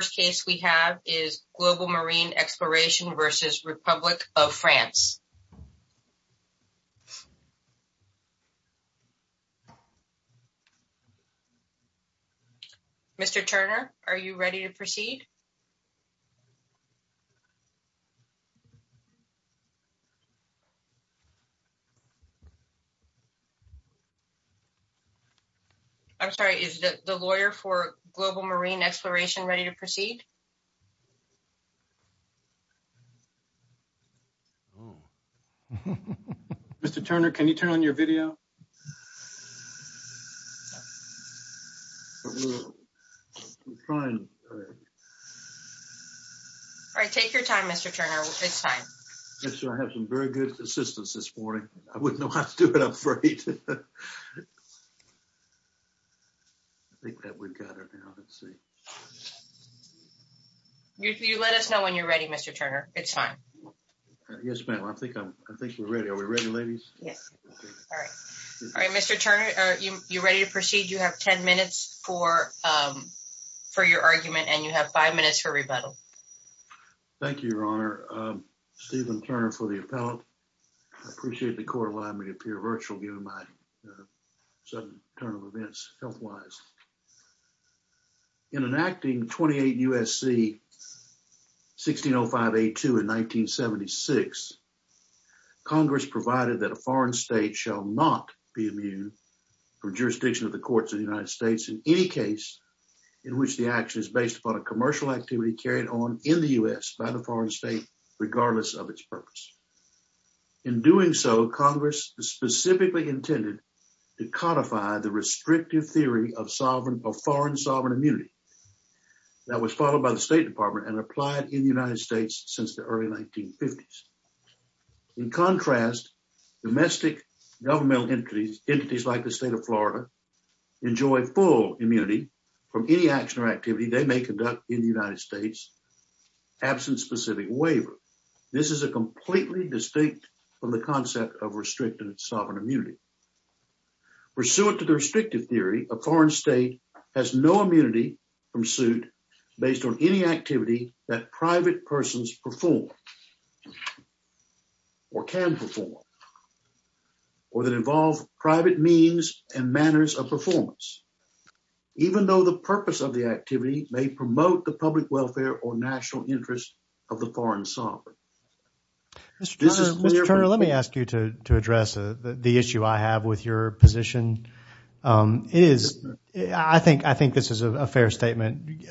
Mr. Turner, are you ready to proceed? I'm sorry, is the lawyer for Global Marine Exploration ready to proceed? Mr. Turner, can you turn on your video? All right, take your time, Mr. Turner, it's fine. I have some very good assistance this morning, I wouldn't know how to do it, I'm afraid. I think that we've got her now, let's see. You let us know when you're ready, Mr. Turner, it's fine. Yes, ma'am, I think we're ready. Are we ready, ladies? Yes. All right, Mr. Turner, are you ready to proceed? You have 10 minutes for your argument and you have five minutes for rebuttal. Thank you, Your Honor. Stephen Turner for the appellate. I appreciate the court allowing me to appear virtual given my sudden turn of events health-wise. In enacting 28 U.S.C. 1605A2 in 1976, Congress provided that a foreign state shall not be immune from jurisdiction of the courts of the United States in any case in which the action is based upon a commercial activity carried on in the U.S. by the foreign state regardless of its purpose. In doing so, Congress specifically intended to codify the restrictive theory of foreign sovereign immunity that was followed by the State Department and applied in the United States since the early 1950s. In contrast, domestic governmental entities like the state of Florida enjoy full immunity from any action or activity they may conduct in the United States absent specific waiver. This is a completely distinct from the concept of restricted sovereign immunity. Pursuant to the restrictive theory, a foreign state has no immunity from suit based on any activity that private persons perform or can perform or that involve private means and manners of performance even though the purpose of the activity may promote the public welfare or national interest of the foreign sovereign. Mr. Turner, let me ask you to address the issue I have with your position. I think this is a fair statement.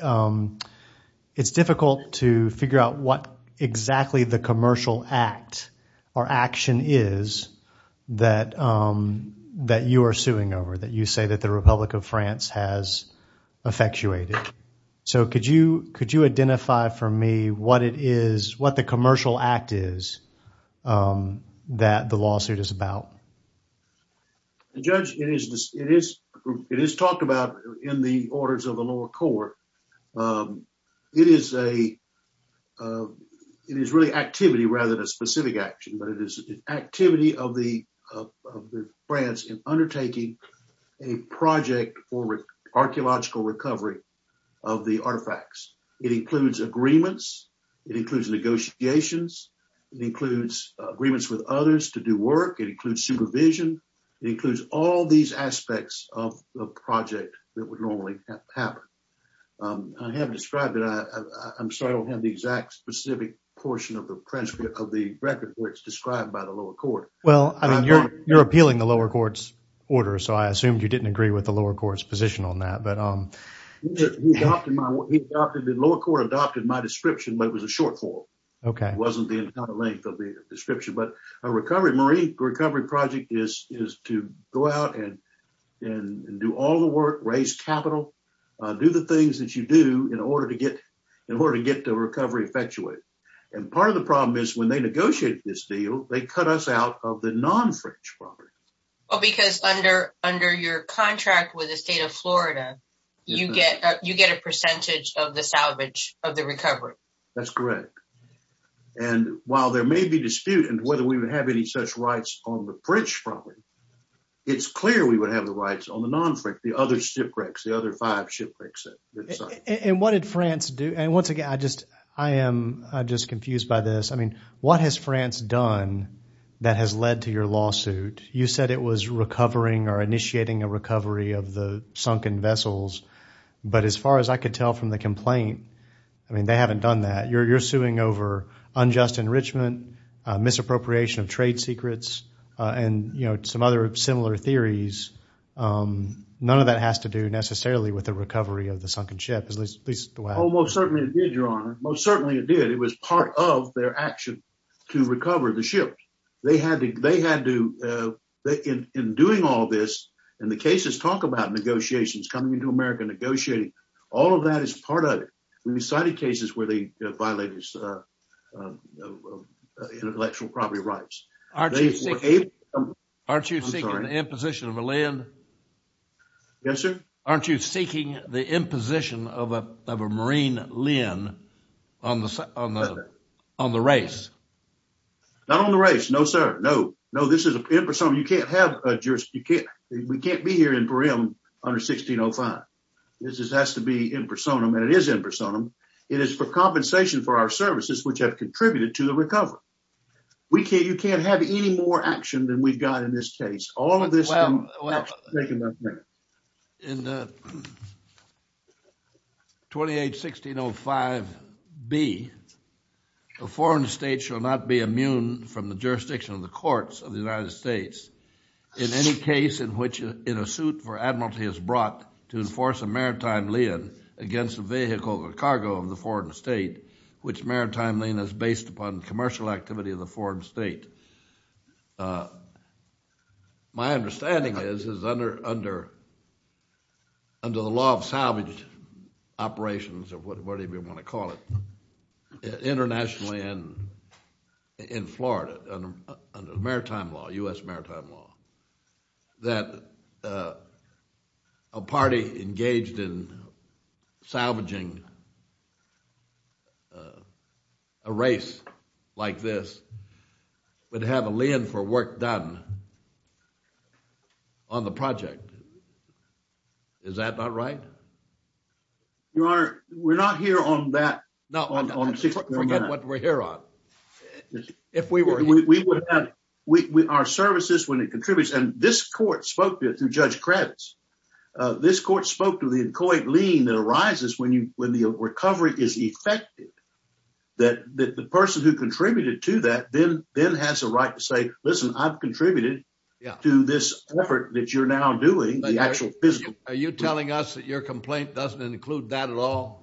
It's difficult to figure out what the Republic of France has effectuated. Could you identify for me what the commercial act is that the lawsuit is about? Judge, it is talked about in the orders of the lower court. It is really activity rather than a specific action, but it is activity of the France in undertaking a project for archaeological recovery of the artifacts. It includes agreements. It includes negotiations. It includes agreements with others to do work. It includes supervision. It includes all these aspects of the project that would normally happen. I haven't described it. I'm sorry I don't have the exact specific portion of the record which is described by the lower court. You're appealing the lower court's order, so I assumed you didn't agree with the lower court's position on that. The lower court adopted my description, but it was a short form. It wasn't the entire length of the description. A recovery project is to go out and do all the work, raise capital, do the things that you do in order to get the recovery effectuated. Part of the problem is when they negotiate this deal, they cut us out of the non-French property. Because under your contract with the state of Florida, you get a percentage of the salvage of the recovery. That's correct. While there may be dispute as to whether we would have any such rights on the French property, it's clear we would have the rights on the non-French, the other shipwrecks, the other five shipwrecks. What has France done that has led to your lawsuit? You said it was recovering or initiating a recovery of the sunken vessels, but as far as I could tell from the complaint, they haven't done that. You're suing over unjust enrichment, misappropriation of trade secrets, and some other similar theories. None of that has to do necessarily with the recovery of the sunken ship. Most certainly it did, Your Honor. Most certainly it did. It was part of their action to recover the ship. In doing all this, and the cases talk about negotiations coming into America, negotiating. All of that is part of it. We cited cases where they violated intellectual property rights. Aren't you seeking the imposition of a marine Linn on the race? Not on the race. No, sir. No. No, this is impersonum. You can't have a jurisdiction. You can't. We can't be here in Purim under 1605. This has to be impersonum, and it is impersonum. It is for compensation for our services, which have contributed to the recovery. You can't have any more action than we've got in this case. All of this. In the 28-1605B, a foreign state shall not be immune from the jurisdiction of the courts of the United States in any case in which in a suit for admiralty is brought to enforce a maritime lien against a vehicle or cargo of the foreign state, which maritime lien is based upon commercial activity of the foreign state. My understanding is, is under the law of salvage operations, or whatever you want to call it, internationally and in Florida, under maritime law, U.S. maritime law, that a party engaged in salvaging a race like this would have a lien for work done on the project. Is that not right? Your Honor, we're not here on that. No, forget what we're here on. Our services, when it contributes, and this court spoke to it through Judge Kravitz. This court spoke to the incoherent lien that arises when the recovery is effective, that the person who contributed to that then has a right to say, listen, I've contributed to this effort that you're now doing. Are you telling us that your complaint doesn't include that at all?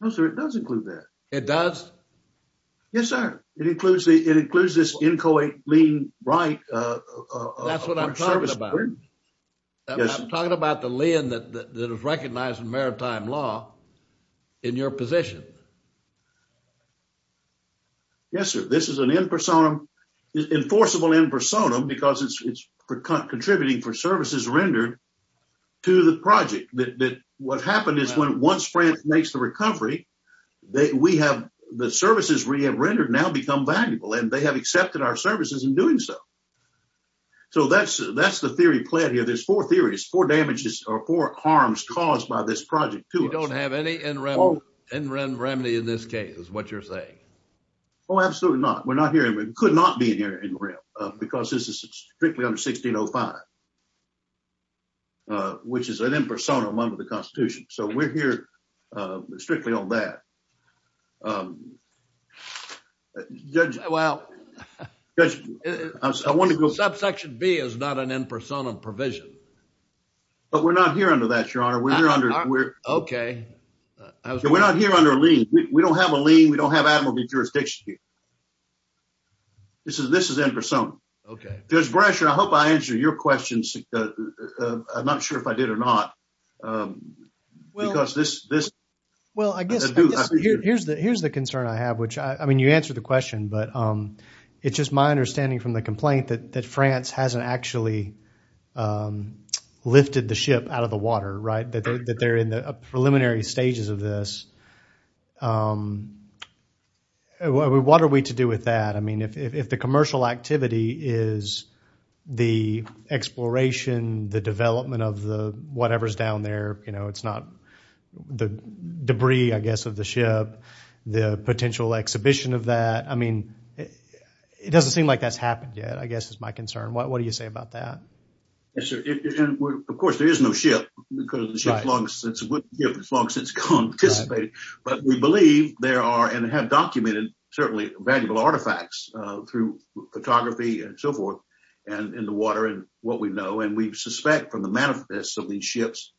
No, sir. It does include that. It does? Yes, sir. It includes this incoherent lien right. That's what I'm talking about. I'm talking about the lien that is recognized in maritime law in your position. Yes, sir. This is an enforceable impersonal because it's contributing for services rendered to the project. What happened is when once France makes the recovery, we have the services we have rendered now become valuable and they have accepted our services in doing so. So that's the theory played here. There's four theories, four damages or four harms caused by this project. You don't have any in remedy in this case is what you're saying? Oh, absolutely not. We're not here. We could not be in here because this is strictly under 1605. Uh, which is an impersonal under the constitution. So we're here, uh, strictly on that. Um, Judge, well, I want to go subsection B is not an impersonal provision, but we're not here under that. Your honor. We're under, we're okay. We're not here under a lien. We don't have a lien. We don't have admiral jurisdiction. This is, this is in person. Okay. There's pressure. I hope I answered your questions. I'm not sure if I did or not. Um, because this, this, well, I guess here's the, here's the concern I have, which I, I mean, you answered the question, but, um, it's just my understanding from the complaint that, that France hasn't actually, um, lifted the ship out of the water, right? That they're in the preliminary stages of this. Um, what are we to do with that? I mean, if, if, if the commercial activity is the exploration, the development of the whatever's down there, you know, it's not the debris, I guess, of the ship, the potential exhibition of that. I mean, it doesn't seem like that's happened yet, I guess is my concern. What, there is no ship because the ship's long since, it's a good ship, it's long since gone, but we believe there are and have documented certainly valuable artifacts, uh, through photography and so forth and in the water and what we know. And we suspect from the manifest of these ships,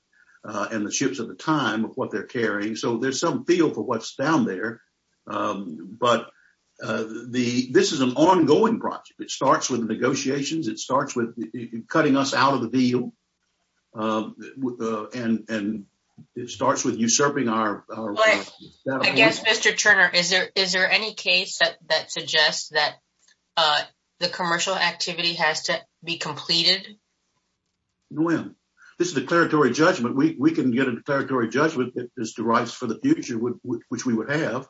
uh, and the ships at the time of what they're carrying. So there's some feel for what's down there. Um, but, uh, the, this is an ongoing project. It starts with negotiations. It starts with cutting us out of the deal, um, and, and it starts with usurping our, I guess, Mr. Turner, is there, is there any case that, that suggests that, uh, the commercial activity has to be completed? Well, this is a declaratory judgment. We, we can get a declaratory judgment that this derives for the future, which we would have,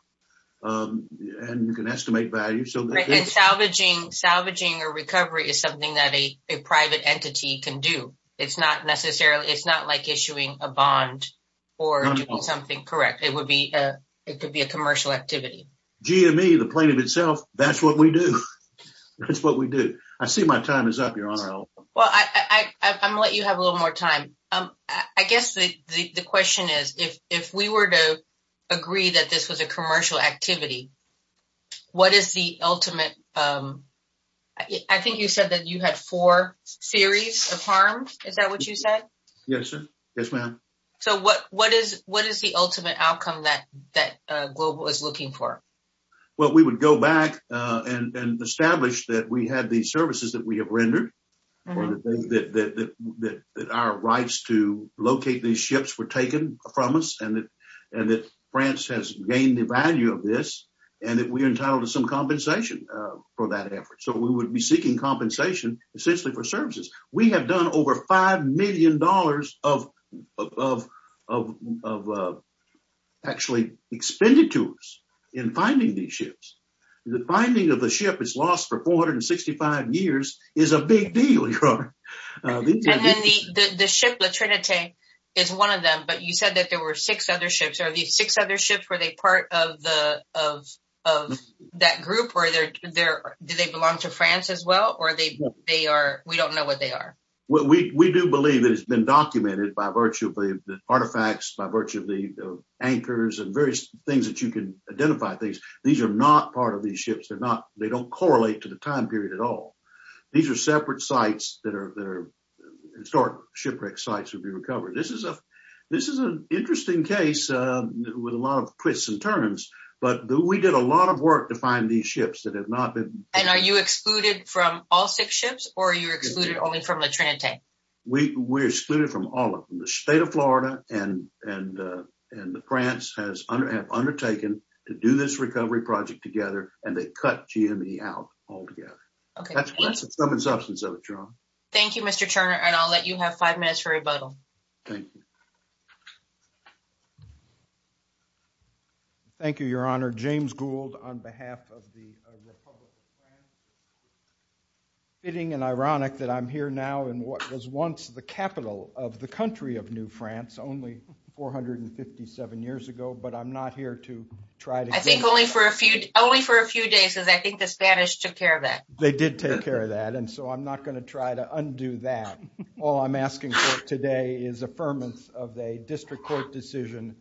um, and you can estimate value. And salvaging, salvaging or recovery is something that a private entity can do. It's not necessarily, it's not like issuing a bond or doing something correct. It would be, uh, it could be a commercial activity. GME, the plaintiff itself, that's what we do. That's what we do. I see my time is up, Your Honor. Well, I, I, I, I'm going to let you have a little more time. Um, I guess the, the, the question is if, if we were to agree that this was a commercial activity, what is the ultimate, um, I think you said that you had four theories of harm. Is that what you said? Yes, sir. Yes, ma'am. So what, what is, what is the ultimate outcome that, that, uh, Global is looking for? Well, we would go back, uh, and, and establish that we had these services that we have rendered or that, that, that, that, that our rights to locate these ships were taken from us and that, and that France has gained the value of this and that we are entitled to some compensation, uh, for that effort. So we would be seeking compensation essentially for services. We have done over $5 million of, of, of, of, of, uh, actually expended to us in finding these ships. The finding of the ship is lost for 465 years is a big deal. And then the, the, the ship, the Trinity is one of them, but you said that there were six other ships. Are these six other ships? Were they part of the, of, of that group where they're there? Do they belong to France as well? Or are they, they are, we don't know what they are. Well, we, we do believe that it's been documented by virtue of the artifacts, by virtue of the anchors and various things that you can identify things. These are not part of these ships. They're they're historic shipwreck sites would be recovered. This is a, this is an interesting case, uh, with a lot of twists and turns, but we did a lot of work to find these ships that have not been. And are you excluded from all six ships or are you excluded only from the Trinity? We, we're excluded from all of them. The state of Florida and, and, uh, and the France has undertaken to do this recovery project together and they cut GME out altogether. Okay. That's, thank you, Mr. Turner. And I'll let you have five minutes for rebuttal. Thank you, your honor, James Gould on behalf of the Republic of France. Fitting and ironic that I'm here now in what was once the capital of the country of new France only 457 years ago, but I'm not here to try to. I think only for a few, only for a few days, because I think the Spanish took care of that. They did take care of that. And so I'm not going to try to undo that. All I'm asking for today is affirmance of a district court decision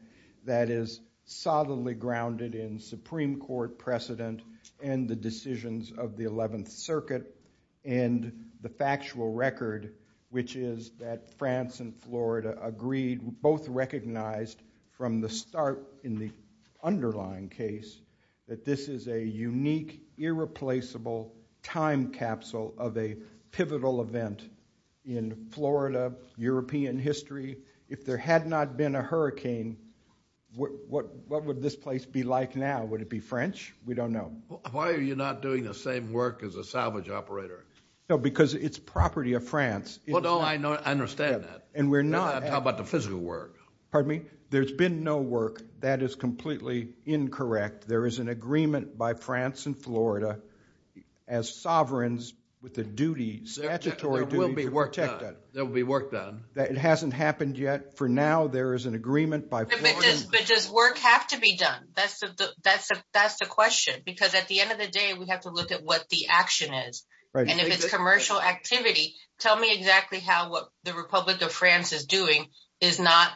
that is solidly grounded in Supreme court precedent and the decisions of the 11th circuit and the factual record, which is that France and Florida agreed, both recognized from the start in the underlying case, that this is a unique, irreplaceable time capsule of a pivotal event in Florida, European history. If there had not been a hurricane, what, what, what would this place be like now? Would it be French? We don't know. Why are you not doing the same work as a salvage operator? No, because it's property of France. Well, no, I know, I understand that. And we're not. How about the physical work? Pardon me? There's been no work. That is completely incorrect. There is an agreement by France and Florida as sovereigns with the duty, statutory duty to protect that. There will be work done. It hasn't happened yet. For now, there is an agreement by... But does work have to be done? That's the question, because at the end of the day, we have to look at what the action is. And if it's commercial activity, tell me exactly how what the Republic of France is doing is not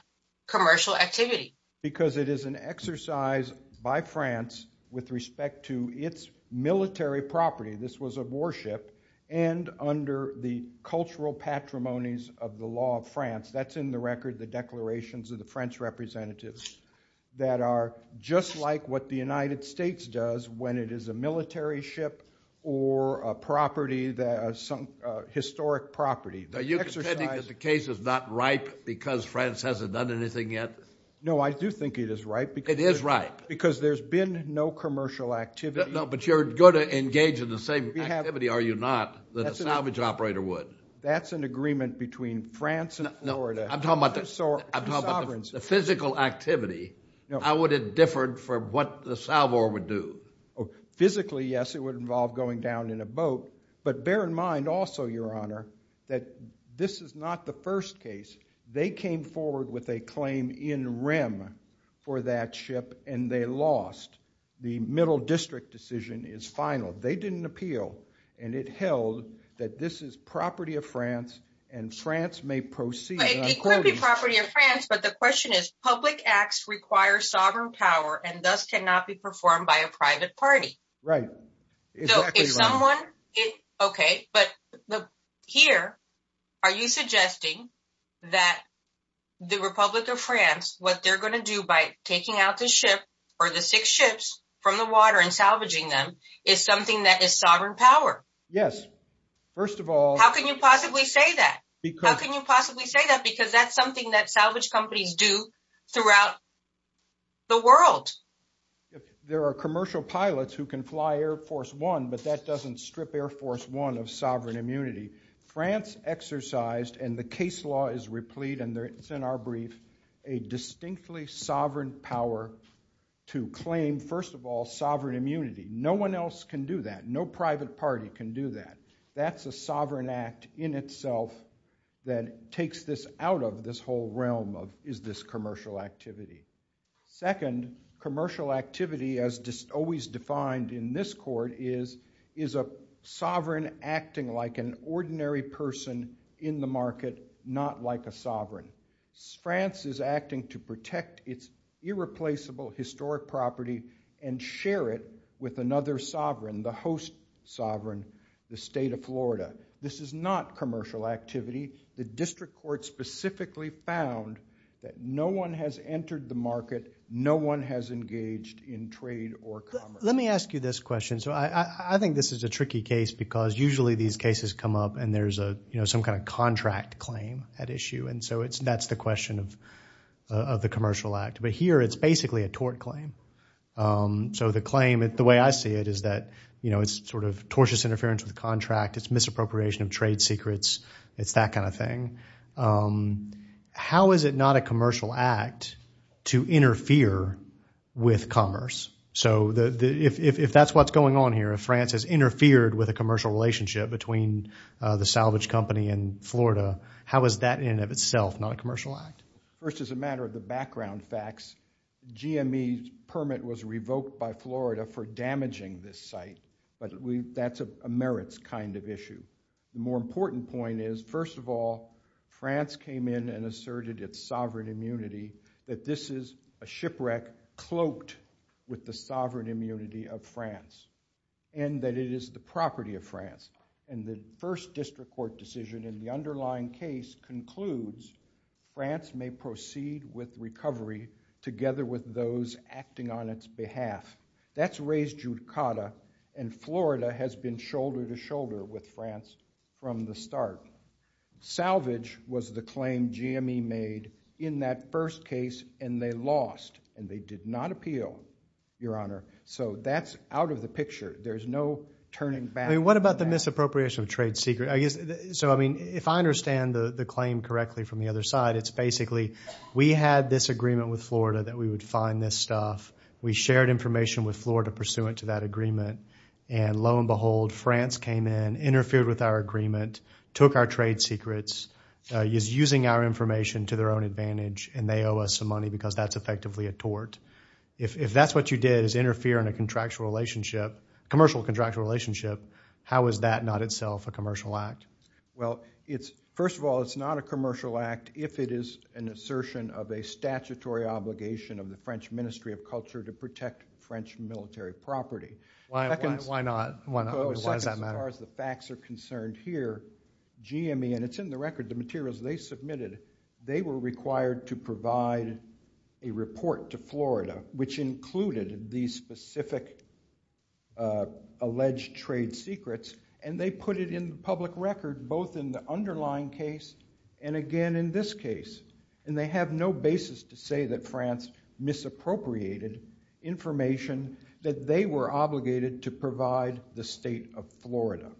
commercial activity. Because it is an exercise by France with respect to its military property. This was a warship and under the cultural patrimonies of the law of France. That's in the record, the declarations of the French representatives that are just like what the United States does when it is a military ship or a property, a historic property. Are you contending that the case is not ripe because France hasn't done anything yet? No, I do think it is ripe. It is ripe. Because there's been no commercial activity. No, but you're going to engage in the same activity, are you not, that a salvage operator would? That's an agreement between France and Florida. No, I'm talking about the physical activity. How would it differ from what the salvor would do? Physically, yes, it would involve going down in a boat. But bear in mind also, Your Honor, that this is not the first case. They came forward with a claim in rem for that ship, and they lost. The middle district decision is final. They didn't appeal. And it held that this is property of France. And France may proceed. It could be property of France. But the Right. Okay, but here, are you suggesting that the Republic of France what they're going to do by taking out the ship, or the six ships from the water and salvaging them is something that is sovereign power? Yes. First of all, how can you possibly say that? How can you possibly say that? Because that's something that salvage companies do throughout the world. There are commercial pilots who can fly Air Force One, but that doesn't strip Air Force One of sovereign immunity. France exercised, and the case law is replete, and it's in our brief, a distinctly sovereign power to claim, first of all, sovereign immunity. No one else can do that. No private party can do that. That's a sovereign act in itself that takes this out of this whole realm is this commercial activity. Second, commercial activity, as always defined in this court, is a sovereign acting like an ordinary person in the market, not like a sovereign. France is acting to protect its irreplaceable historic property and share it with another sovereign, the host sovereign, the state of Florida. This is not commercial activity. The district court specifically found that no one has entered the market. No one has engaged in trade or commerce. Let me ask you this question. So I think this is a tricky case because usually these cases come up and there's some kind of contract claim at issue. And so that's the question of the commercial act. But here, it's basically a tort claim. So the claim, the way I see it is that it's sort of tortious interference with the contract. It's misappropriation of trade secrets. It's that kind of thing. How is it not a commercial act to interfere with commerce? So if that's what's going on here, if France has interfered with a commercial relationship between the salvage company and Florida, how is that in and of itself not a commercial act? First, as a matter of the background facts, GME's permit was revoked by Florida for damaging this site. But that's a France came in and asserted its sovereign immunity, that this is a shipwreck cloaked with the sovereign immunity of France, and that it is the property of France. And the first district court decision in the underlying case concludes France may proceed with recovery together with those acting on its behalf. That's raised judicata, and Florida has been shoulder to shoulder with salvage was the claim GME made in that first case, and they lost, and they did not appeal, Your Honor. So that's out of the picture. There's no turning back. I mean, what about the misappropriation of trade secret? So I mean, if I understand the claim correctly from the other side, it's basically we had this agreement with Florida that we would find this stuff. We shared information with Florida pursuant to that agreement. And lo and behold, France came in, interfered with our agreement, took our trade secrets, is using our information to their own advantage, and they owe us some money because that's effectively a tort. If that's what you did is interfere in a contractual relationship, commercial contractual relationship, how is that not itself a commercial act? Well, it's first of all, it's not a commercial act if it is an assertion of a statutory obligation of the French Ministry of Culture to protect French military property. Why not? Why does that matter? As far as the facts are concerned here, GME, and it's in the record, the materials they submitted, they were required to provide a report to Florida, which included these specific alleged trade secrets, and they put it in the public record, both in the underlying case and again in this case. And they have no basis to say that France misappropriated information that they were obligated to provide the state of Florida.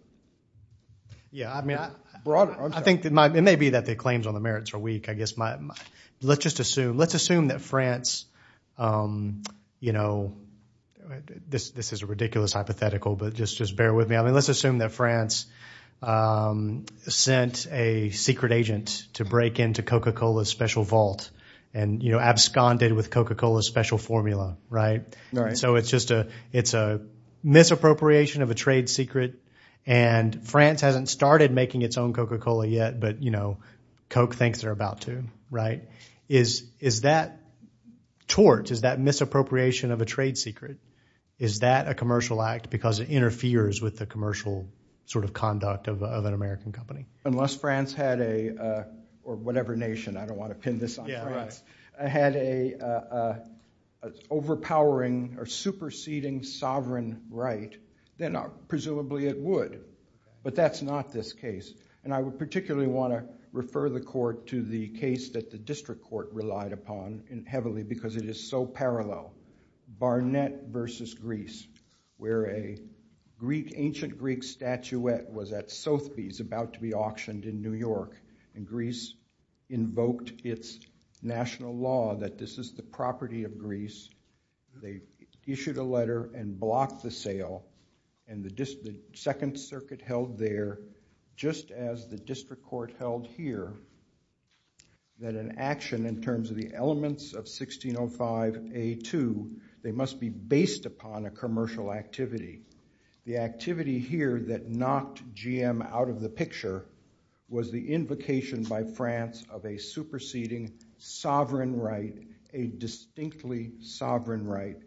Yeah, I mean, I think it may be that the claims on the merits are weak, I guess. Let's just assume, let's assume that France, you know, this is a ridiculous hypothetical, but just, just bear with me. I mean, let's assume that France sent a secret agent to break into Coca-Cola's special vault and, you know, absconded with Coca-Cola's special formula, right? So it's just a, it's a misappropriation of a trade secret. And France hasn't started making its own Coca-Cola yet, but, you know, Coke thinks they're about to, right? Is that tort, is that misappropriation of a trade secret, is that a commercial act because it interferes with the commercial sort of conduct of an American company? Unless France had a, or whatever nation, I don't want to pin this on France, had a overpowering or superseding sovereign right, then presumably it would. But that's not this case. And I would particularly want to refer the court to the case that the district court relied upon heavily because it is so parallel. Barnett versus Greece, where a Greek, ancient Greek statuette was at Sotheby's about to be auctioned in New York. And Greece invoked its national law that this is the property of Greece. They issued a letter and blocked the sale. And the district, the Second Circuit held there, just as the district court held here, that an action in terms of the elements of 1605 A.2, they must be based upon a commercial activity. The activity here that knocked GM out of the picture was the invocation by France of a superseding sovereign right, a distinctly sovereign right.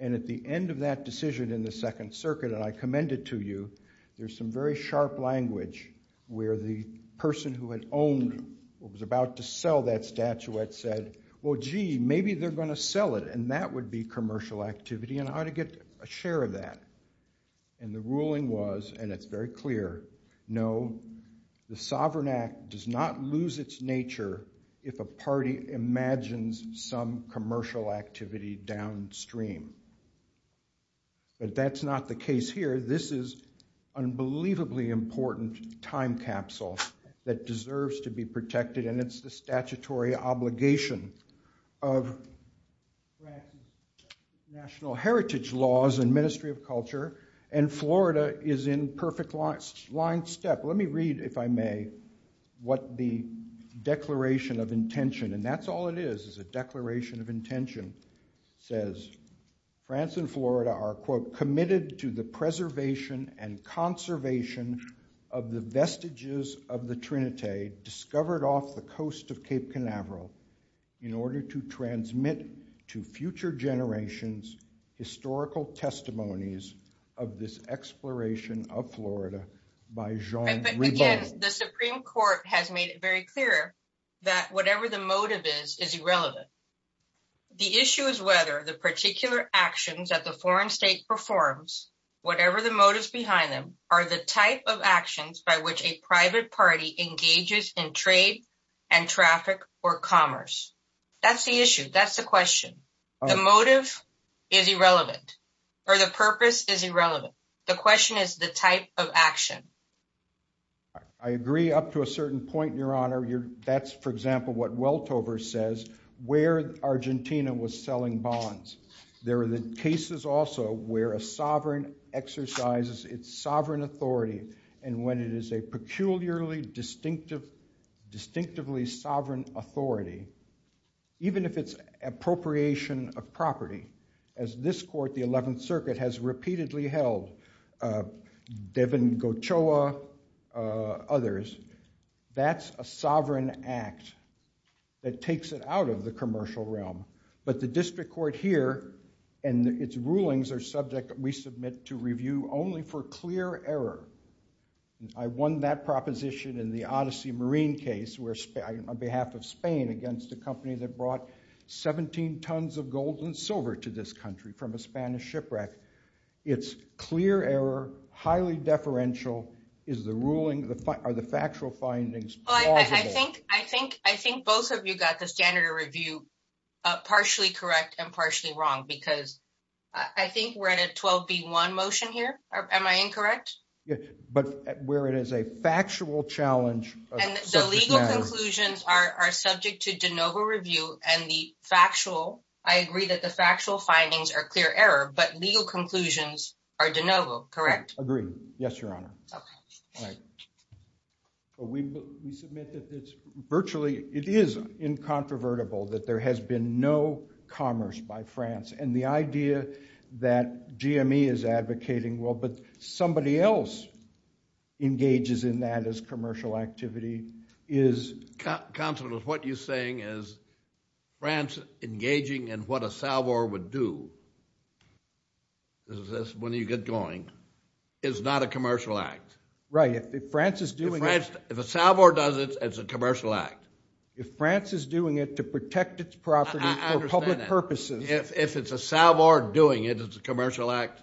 And at the end of that decision in the Second Circuit, and I commend it to you, there's some very sharp language where the person who had owned or was about to sell that statuette said, well, gee, maybe they're going to sell it. And that would be commercial activity, and I ought to get a share of that. And the ruling was, and it's very clear, no, the Sovereign Act does not lose its nature if a party imagines some commercial activity downstream. But that's not the case here. This is unbelievably important time capsule that deserves to be protected, and it's the statutory obligation of national heritage laws and Ministry of Culture. And Florida is in perfect line step. Let me read, if I may, what the Declaration of Intention, and that's all it is, is a Declaration of Intention says. France and Florida are, quote, committed to the preservation and conservation of the vestiges of the trinity discovered off the coast of Cape Canaveral in order to transmit to future generations historical testimonies of this exploration of Florida by Jean Rebond. Again, the Supreme Court has made it very clear that whatever the motive is, is irrelevant. The issue is whether the particular actions that the foreign state performs, whatever the motives behind them, are the type of actions by which a private party engages in trade and traffic or commerce. That's the issue. That's the question. The motive is irrelevant, or the purpose is irrelevant. The question is the type of action. I agree up to a certain point, Your Honor. That's, for example, what Weltover says, where Argentina was selling bonds. There are the cases also where a sovereign exercises its sovereign authority, and when it is a peculiarly distinctive, distinctively sovereign authority, even if it's appropriation of property, as this court, the 11th Circuit, has repeatedly held, Devon Gochoa, others, that's a sovereign act that takes it out of the commercial realm. But the district court here and its rulings are subject, we submit, to review only for clear error. I won that proposition in the Odyssey Marine case, where on behalf of Spain, against a company that brought 17 tons of gold and silver to this country from a Spanish shipwreck. It's clear error, highly deferential. Is the ruling, are the factual findings plausible? Well, I think both of you got the standard of review partially correct and partially wrong, because I think we're at a 12-B-1 motion here. Am I incorrect? Yeah, but where it is a factual challenge. And the legal conclusions are subject to de novo review, and the factual, I agree that the factual findings are clear error, but legal conclusions are de novo, correct? Agree. Yes, Your Honor. Okay. All right. But we submit that it's virtually, it is incontrovertible that there has been no commerce by France, and the idea that GME is advocating, well, but somebody else engages in that as commercial activity is... Counselor, what you're saying is France engaging in what a salvo would do, this is when you get going, is not a commercial act. Right, if France is doing it... If a salvo does it, it's a commercial act. If France is doing it to protect its property for public purposes... If it's a salvo doing it, it's a commercial act?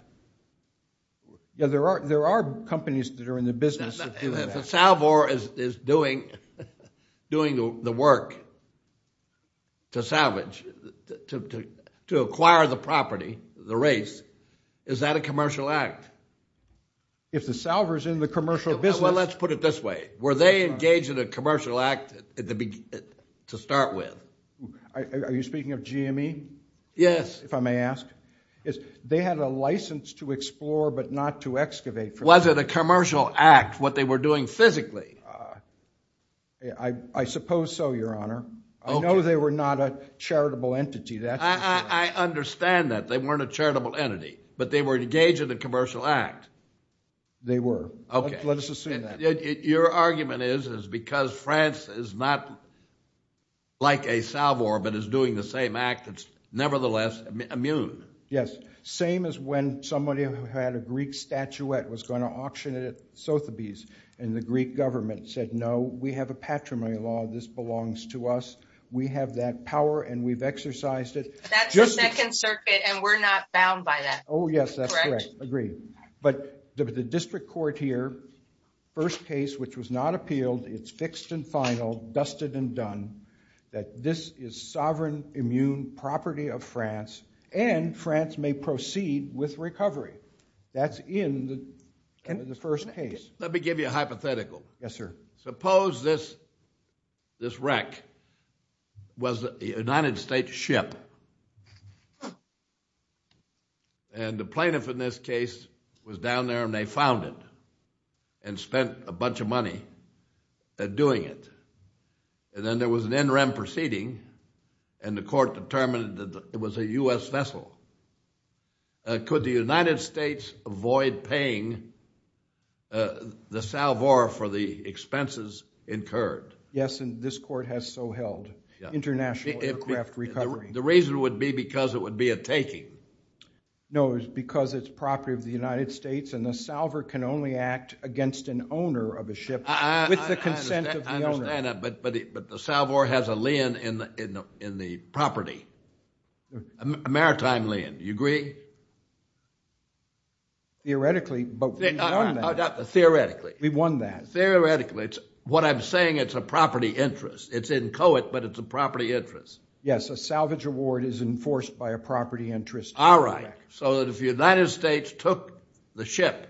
Yeah, there are companies that are in the business... If a salvo is doing the work to salvage, to acquire the property, the race, is that a commercial act? If the salvo is in the commercial business... Well, let's put it this way, were they engaged in a commercial act to start with? Are you speaking of GME? Yes. If I may ask, they had a license to explore but not to excavate... Was it a commercial act what they were doing physically? I suppose so, Your Honor. I know they were not a charitable entity. I understand that, they weren't a charitable entity, but they were engaged in a commercial act. They were. Okay, let us assume that. Your argument is, is because France is not like a salvo but is doing the same act, it's nevertheless immune. Yes, same as when somebody who had a Greek statuette was going to auction it at Sotheby's and the Greek government said, no, we have a patrimony law, this belongs to us, we have that power and we've exercised it. That's the second circuit and we're not bound by that. Oh, yes, that's right. Agreed. But the district court here, first case which was not appealed, it's fixed and final, dusted and done, that this is sovereign immune property of France and France may proceed with recovery. That's in the first case. Let me give you a hypothetical. Yes, sir. Suppose this wreck was a United States ship and the plaintiff in this case was down there and they found it and spent a bunch of money at doing it. And then there was an NREM proceeding and the court determined that it was a U.S. vessel. Could the United States avoid paying the salvo for the expenses incurred? Yes, and this court has so held. International aircraft recovery. The reason would be because it would be a taking. No, it's because it's property of the United States and the salver can only act against an owner of a ship with the consent of the owner. I understand that, but the salvo has a lien in the property, a maritime lien, do you agree? Theoretically, but we've won that. Theoretically. We've won that. Theoretically, what I'm saying, it's a property interest. It's inchoate, but it's a property interest. Yes, a salvage award is enforced by a property interest. All right, so that if the United States took the ship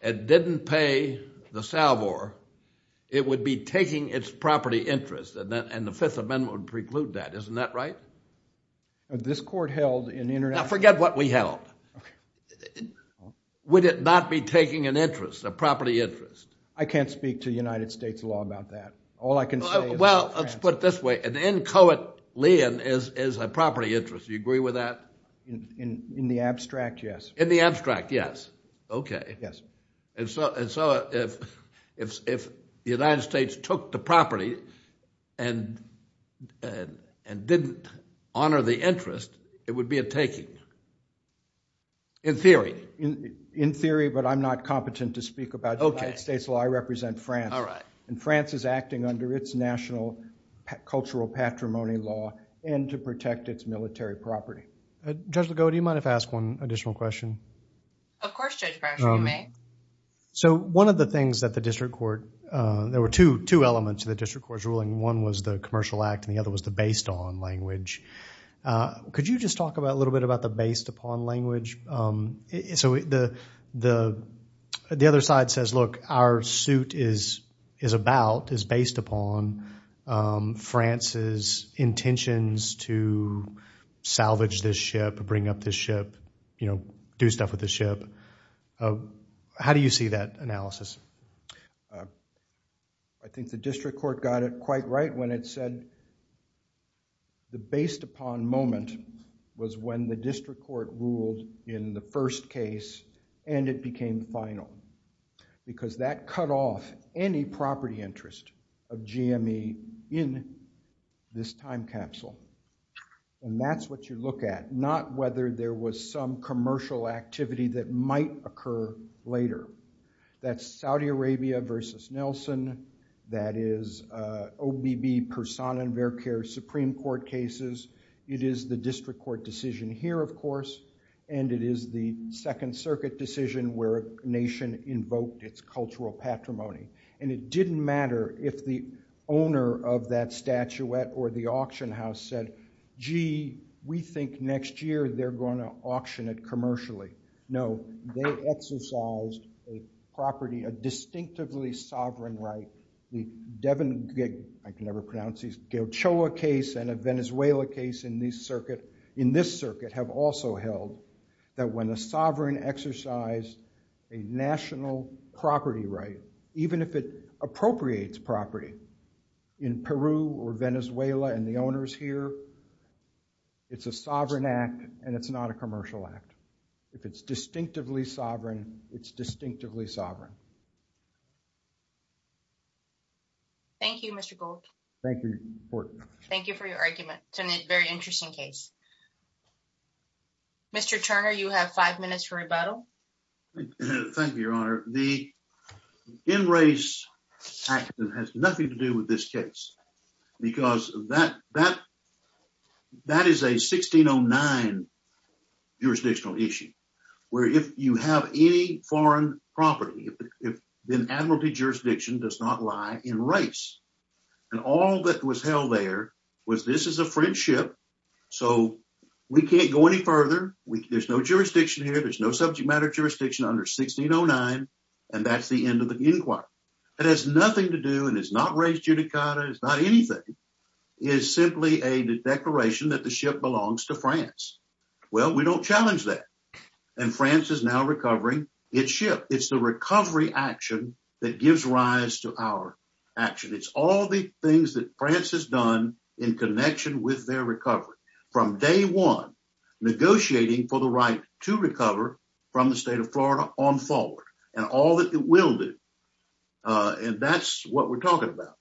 and didn't pay the salvo, it would be taking its property interest and the Fifth Amendment would preclude that. Isn't that right? This court held in international... Now forget what we held. Would it not be taking an interest, a property interest? I can't speak to the United States law about that. All I can say is... Well, let's put it this way. An inchoate lien is a property interest. Do you agree with that? In the abstract, yes. In the abstract, yes. Okay. And so if the United States took the property and didn't honor the interest, it would be a taking. In theory. In theory, but I'm not competent to speak about the United States law. I represent France, and France is acting under its national cultural patrimony law and to protect its military property. Judge Legault, do you mind if I ask one additional question? Of course, Judge Fraser, you may. So one of the things that the district court... There were two elements to the district court's ruling. One was the commercial act and the other was the based on language. Could you just talk a little bit about the based upon language? So the other side says, look, our suit is about, is based upon France's intentions to salvage this ship, bring up this ship, do stuff with this ship. How do you see that analysis? I think the district court got it quite right when it said that the based upon moment was when the district court ruled in the first case and it became final. Because that cut off any property interest of GME in this time capsule. And that's what you look at, not whether there was some commercial activity that might occur later. That's Saudi Arabia versus Nelson. That is OBB, Persona, and Verker Supreme Court cases. It is the district court decision here, of course, and it is the Second Circuit decision where a nation invoked its cultural patrimony. And it didn't matter if the owner of that statuette or the auction house said, gee, we think next year they're going to auction it commercially. No, they exercised a property, a distinctively sovereign right. The Devon, I can never pronounce these, Gauchoa case and a Venezuela case in this circuit have also held that when a sovereign exercised a national property right, even if it appropriates property in Peru or Venezuela and the owners here, it's a sovereign act and it's not a commercial act. If it's distinctively sovereign, it's distinctively sovereign. Thank you, Mr. Gould. Thank you for your argument. It's a very interesting case. Mr. Turner, you have five minutes for rebuttal. Thank you, Your Honor. The in-race act has nothing to do with this case because that is a 1609 jurisdictional issue, where if you have any foreign property, then admiralty jurisdiction does not lie in race. And all that was held there was this is a French ship, so we can't go any further. There's no jurisdiction here. There's no subject matter jurisdiction under 1609, and that's the end of the inquiry. It has nothing to do and it's not race judicata. It's not anything. It's simply a declaration that the ship belongs to France. Well, we don't challenge that and France is now recovering its ship. It's the recovery action that gives rise to our action. It's all the things that France has done in connection with their recovery from day one, negotiating for the right to recover from the state of Florida on forward and all that it will do. And that's what we're talking about.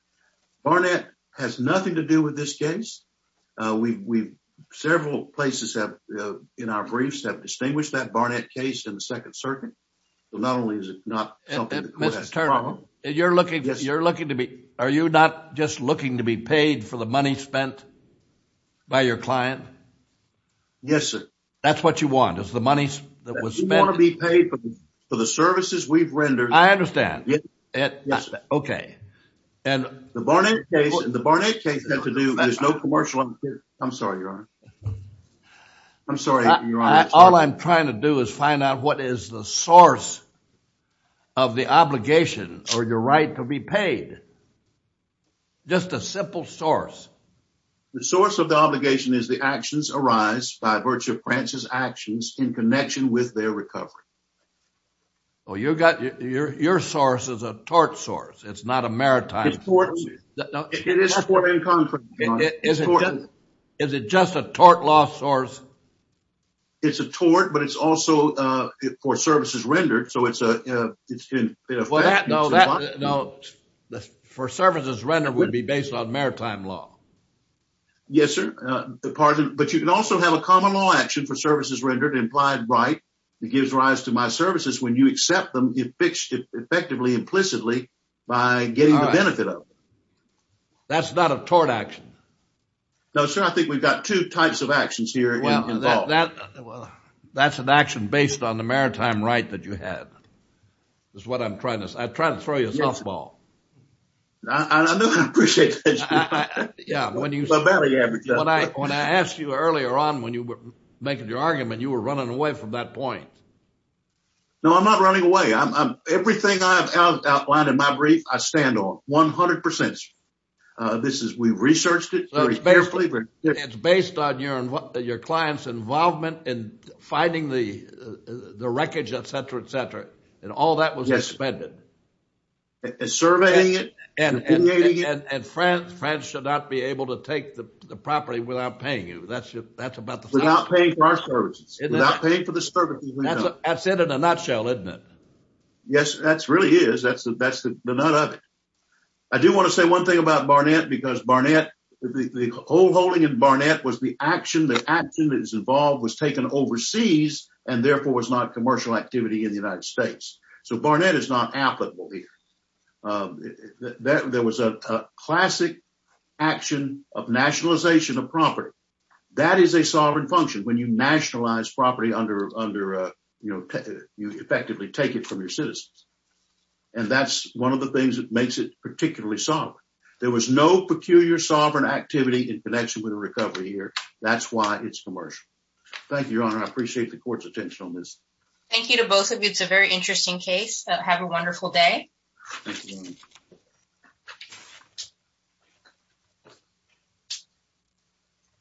Barnett has nothing to do with this case. We've several places have in our briefs have distinguished that Barnett case in the second circuit. Not only is it not something that Mr. Turner, you're looking, you're looking to be, are you not just looking to be paid for the money spent by your client? Yes, sir. That's what you want is the money that was spent to be paid for the services we've rendered. I understand. Yes. Okay. And the Barnett case, the Barnett case has to do, there's no commercial. I'm sorry, your honor. I'm sorry. All I'm trying to do is find out what is the source of the obligation or your right to be paid. Just a simple source. The source of the obligation is the actions arise by virtue of France's actions in connection with their recovery. Oh, you've got your, your source is a tort source. It's not a maritime. Is it just a tort law source? It's a tort, but it's also for services rendered. So it's a, it's been, you know, for services rendered would be based on maritime law. Yes, sir. The pardon, but you can also have a common law action for services rendered implied right. It gives rise to my services. When you accept them, you fixed it effectively, implicitly by getting the benefit of it. That's not a tort action. No, sir. I think we've got two types of actions here. Well, that's an action based on the maritime right that you had. That's what I'm trying to say. I try to throw you a softball. I know I appreciate that. Yeah. When you, when I asked you earlier on, when you were making your argument, you were running away from that point. No, I'm not running away. I'm, I'm everything I've outlined in my brief. I stand on 100%. This is, we've researched it. It's based on your, your client's involvement in finding the, the wreckage, et cetera, et cetera. And all that was suspended. Surveying it. And France, France should not be able to take the property without paying you. That's about the same. Without paying for our services. Without paying for the services. That's it in a nutshell, isn't it? Yes, that's really is. That's the, that's the nut of it. I do want to say one thing about Barnett because Barnett, the whole holding in Barnett was the action, the action that is involved was taken overseas and therefore was not commercial activity in the United States. So Barnett is not applicable here. There was a classic action of nationalization of property. That is a sovereign function when you nationalize property under, under, you know, you effectively take it from your citizens. And that's one of the things that makes it particularly solid. There was no peculiar sovereign activity in connection with the recovery here. That's why it's commercial. Thank you, Your Honor. I appreciate the court's attention on this. Thank you to both of you. It's a very interesting case. Have a wonderful day.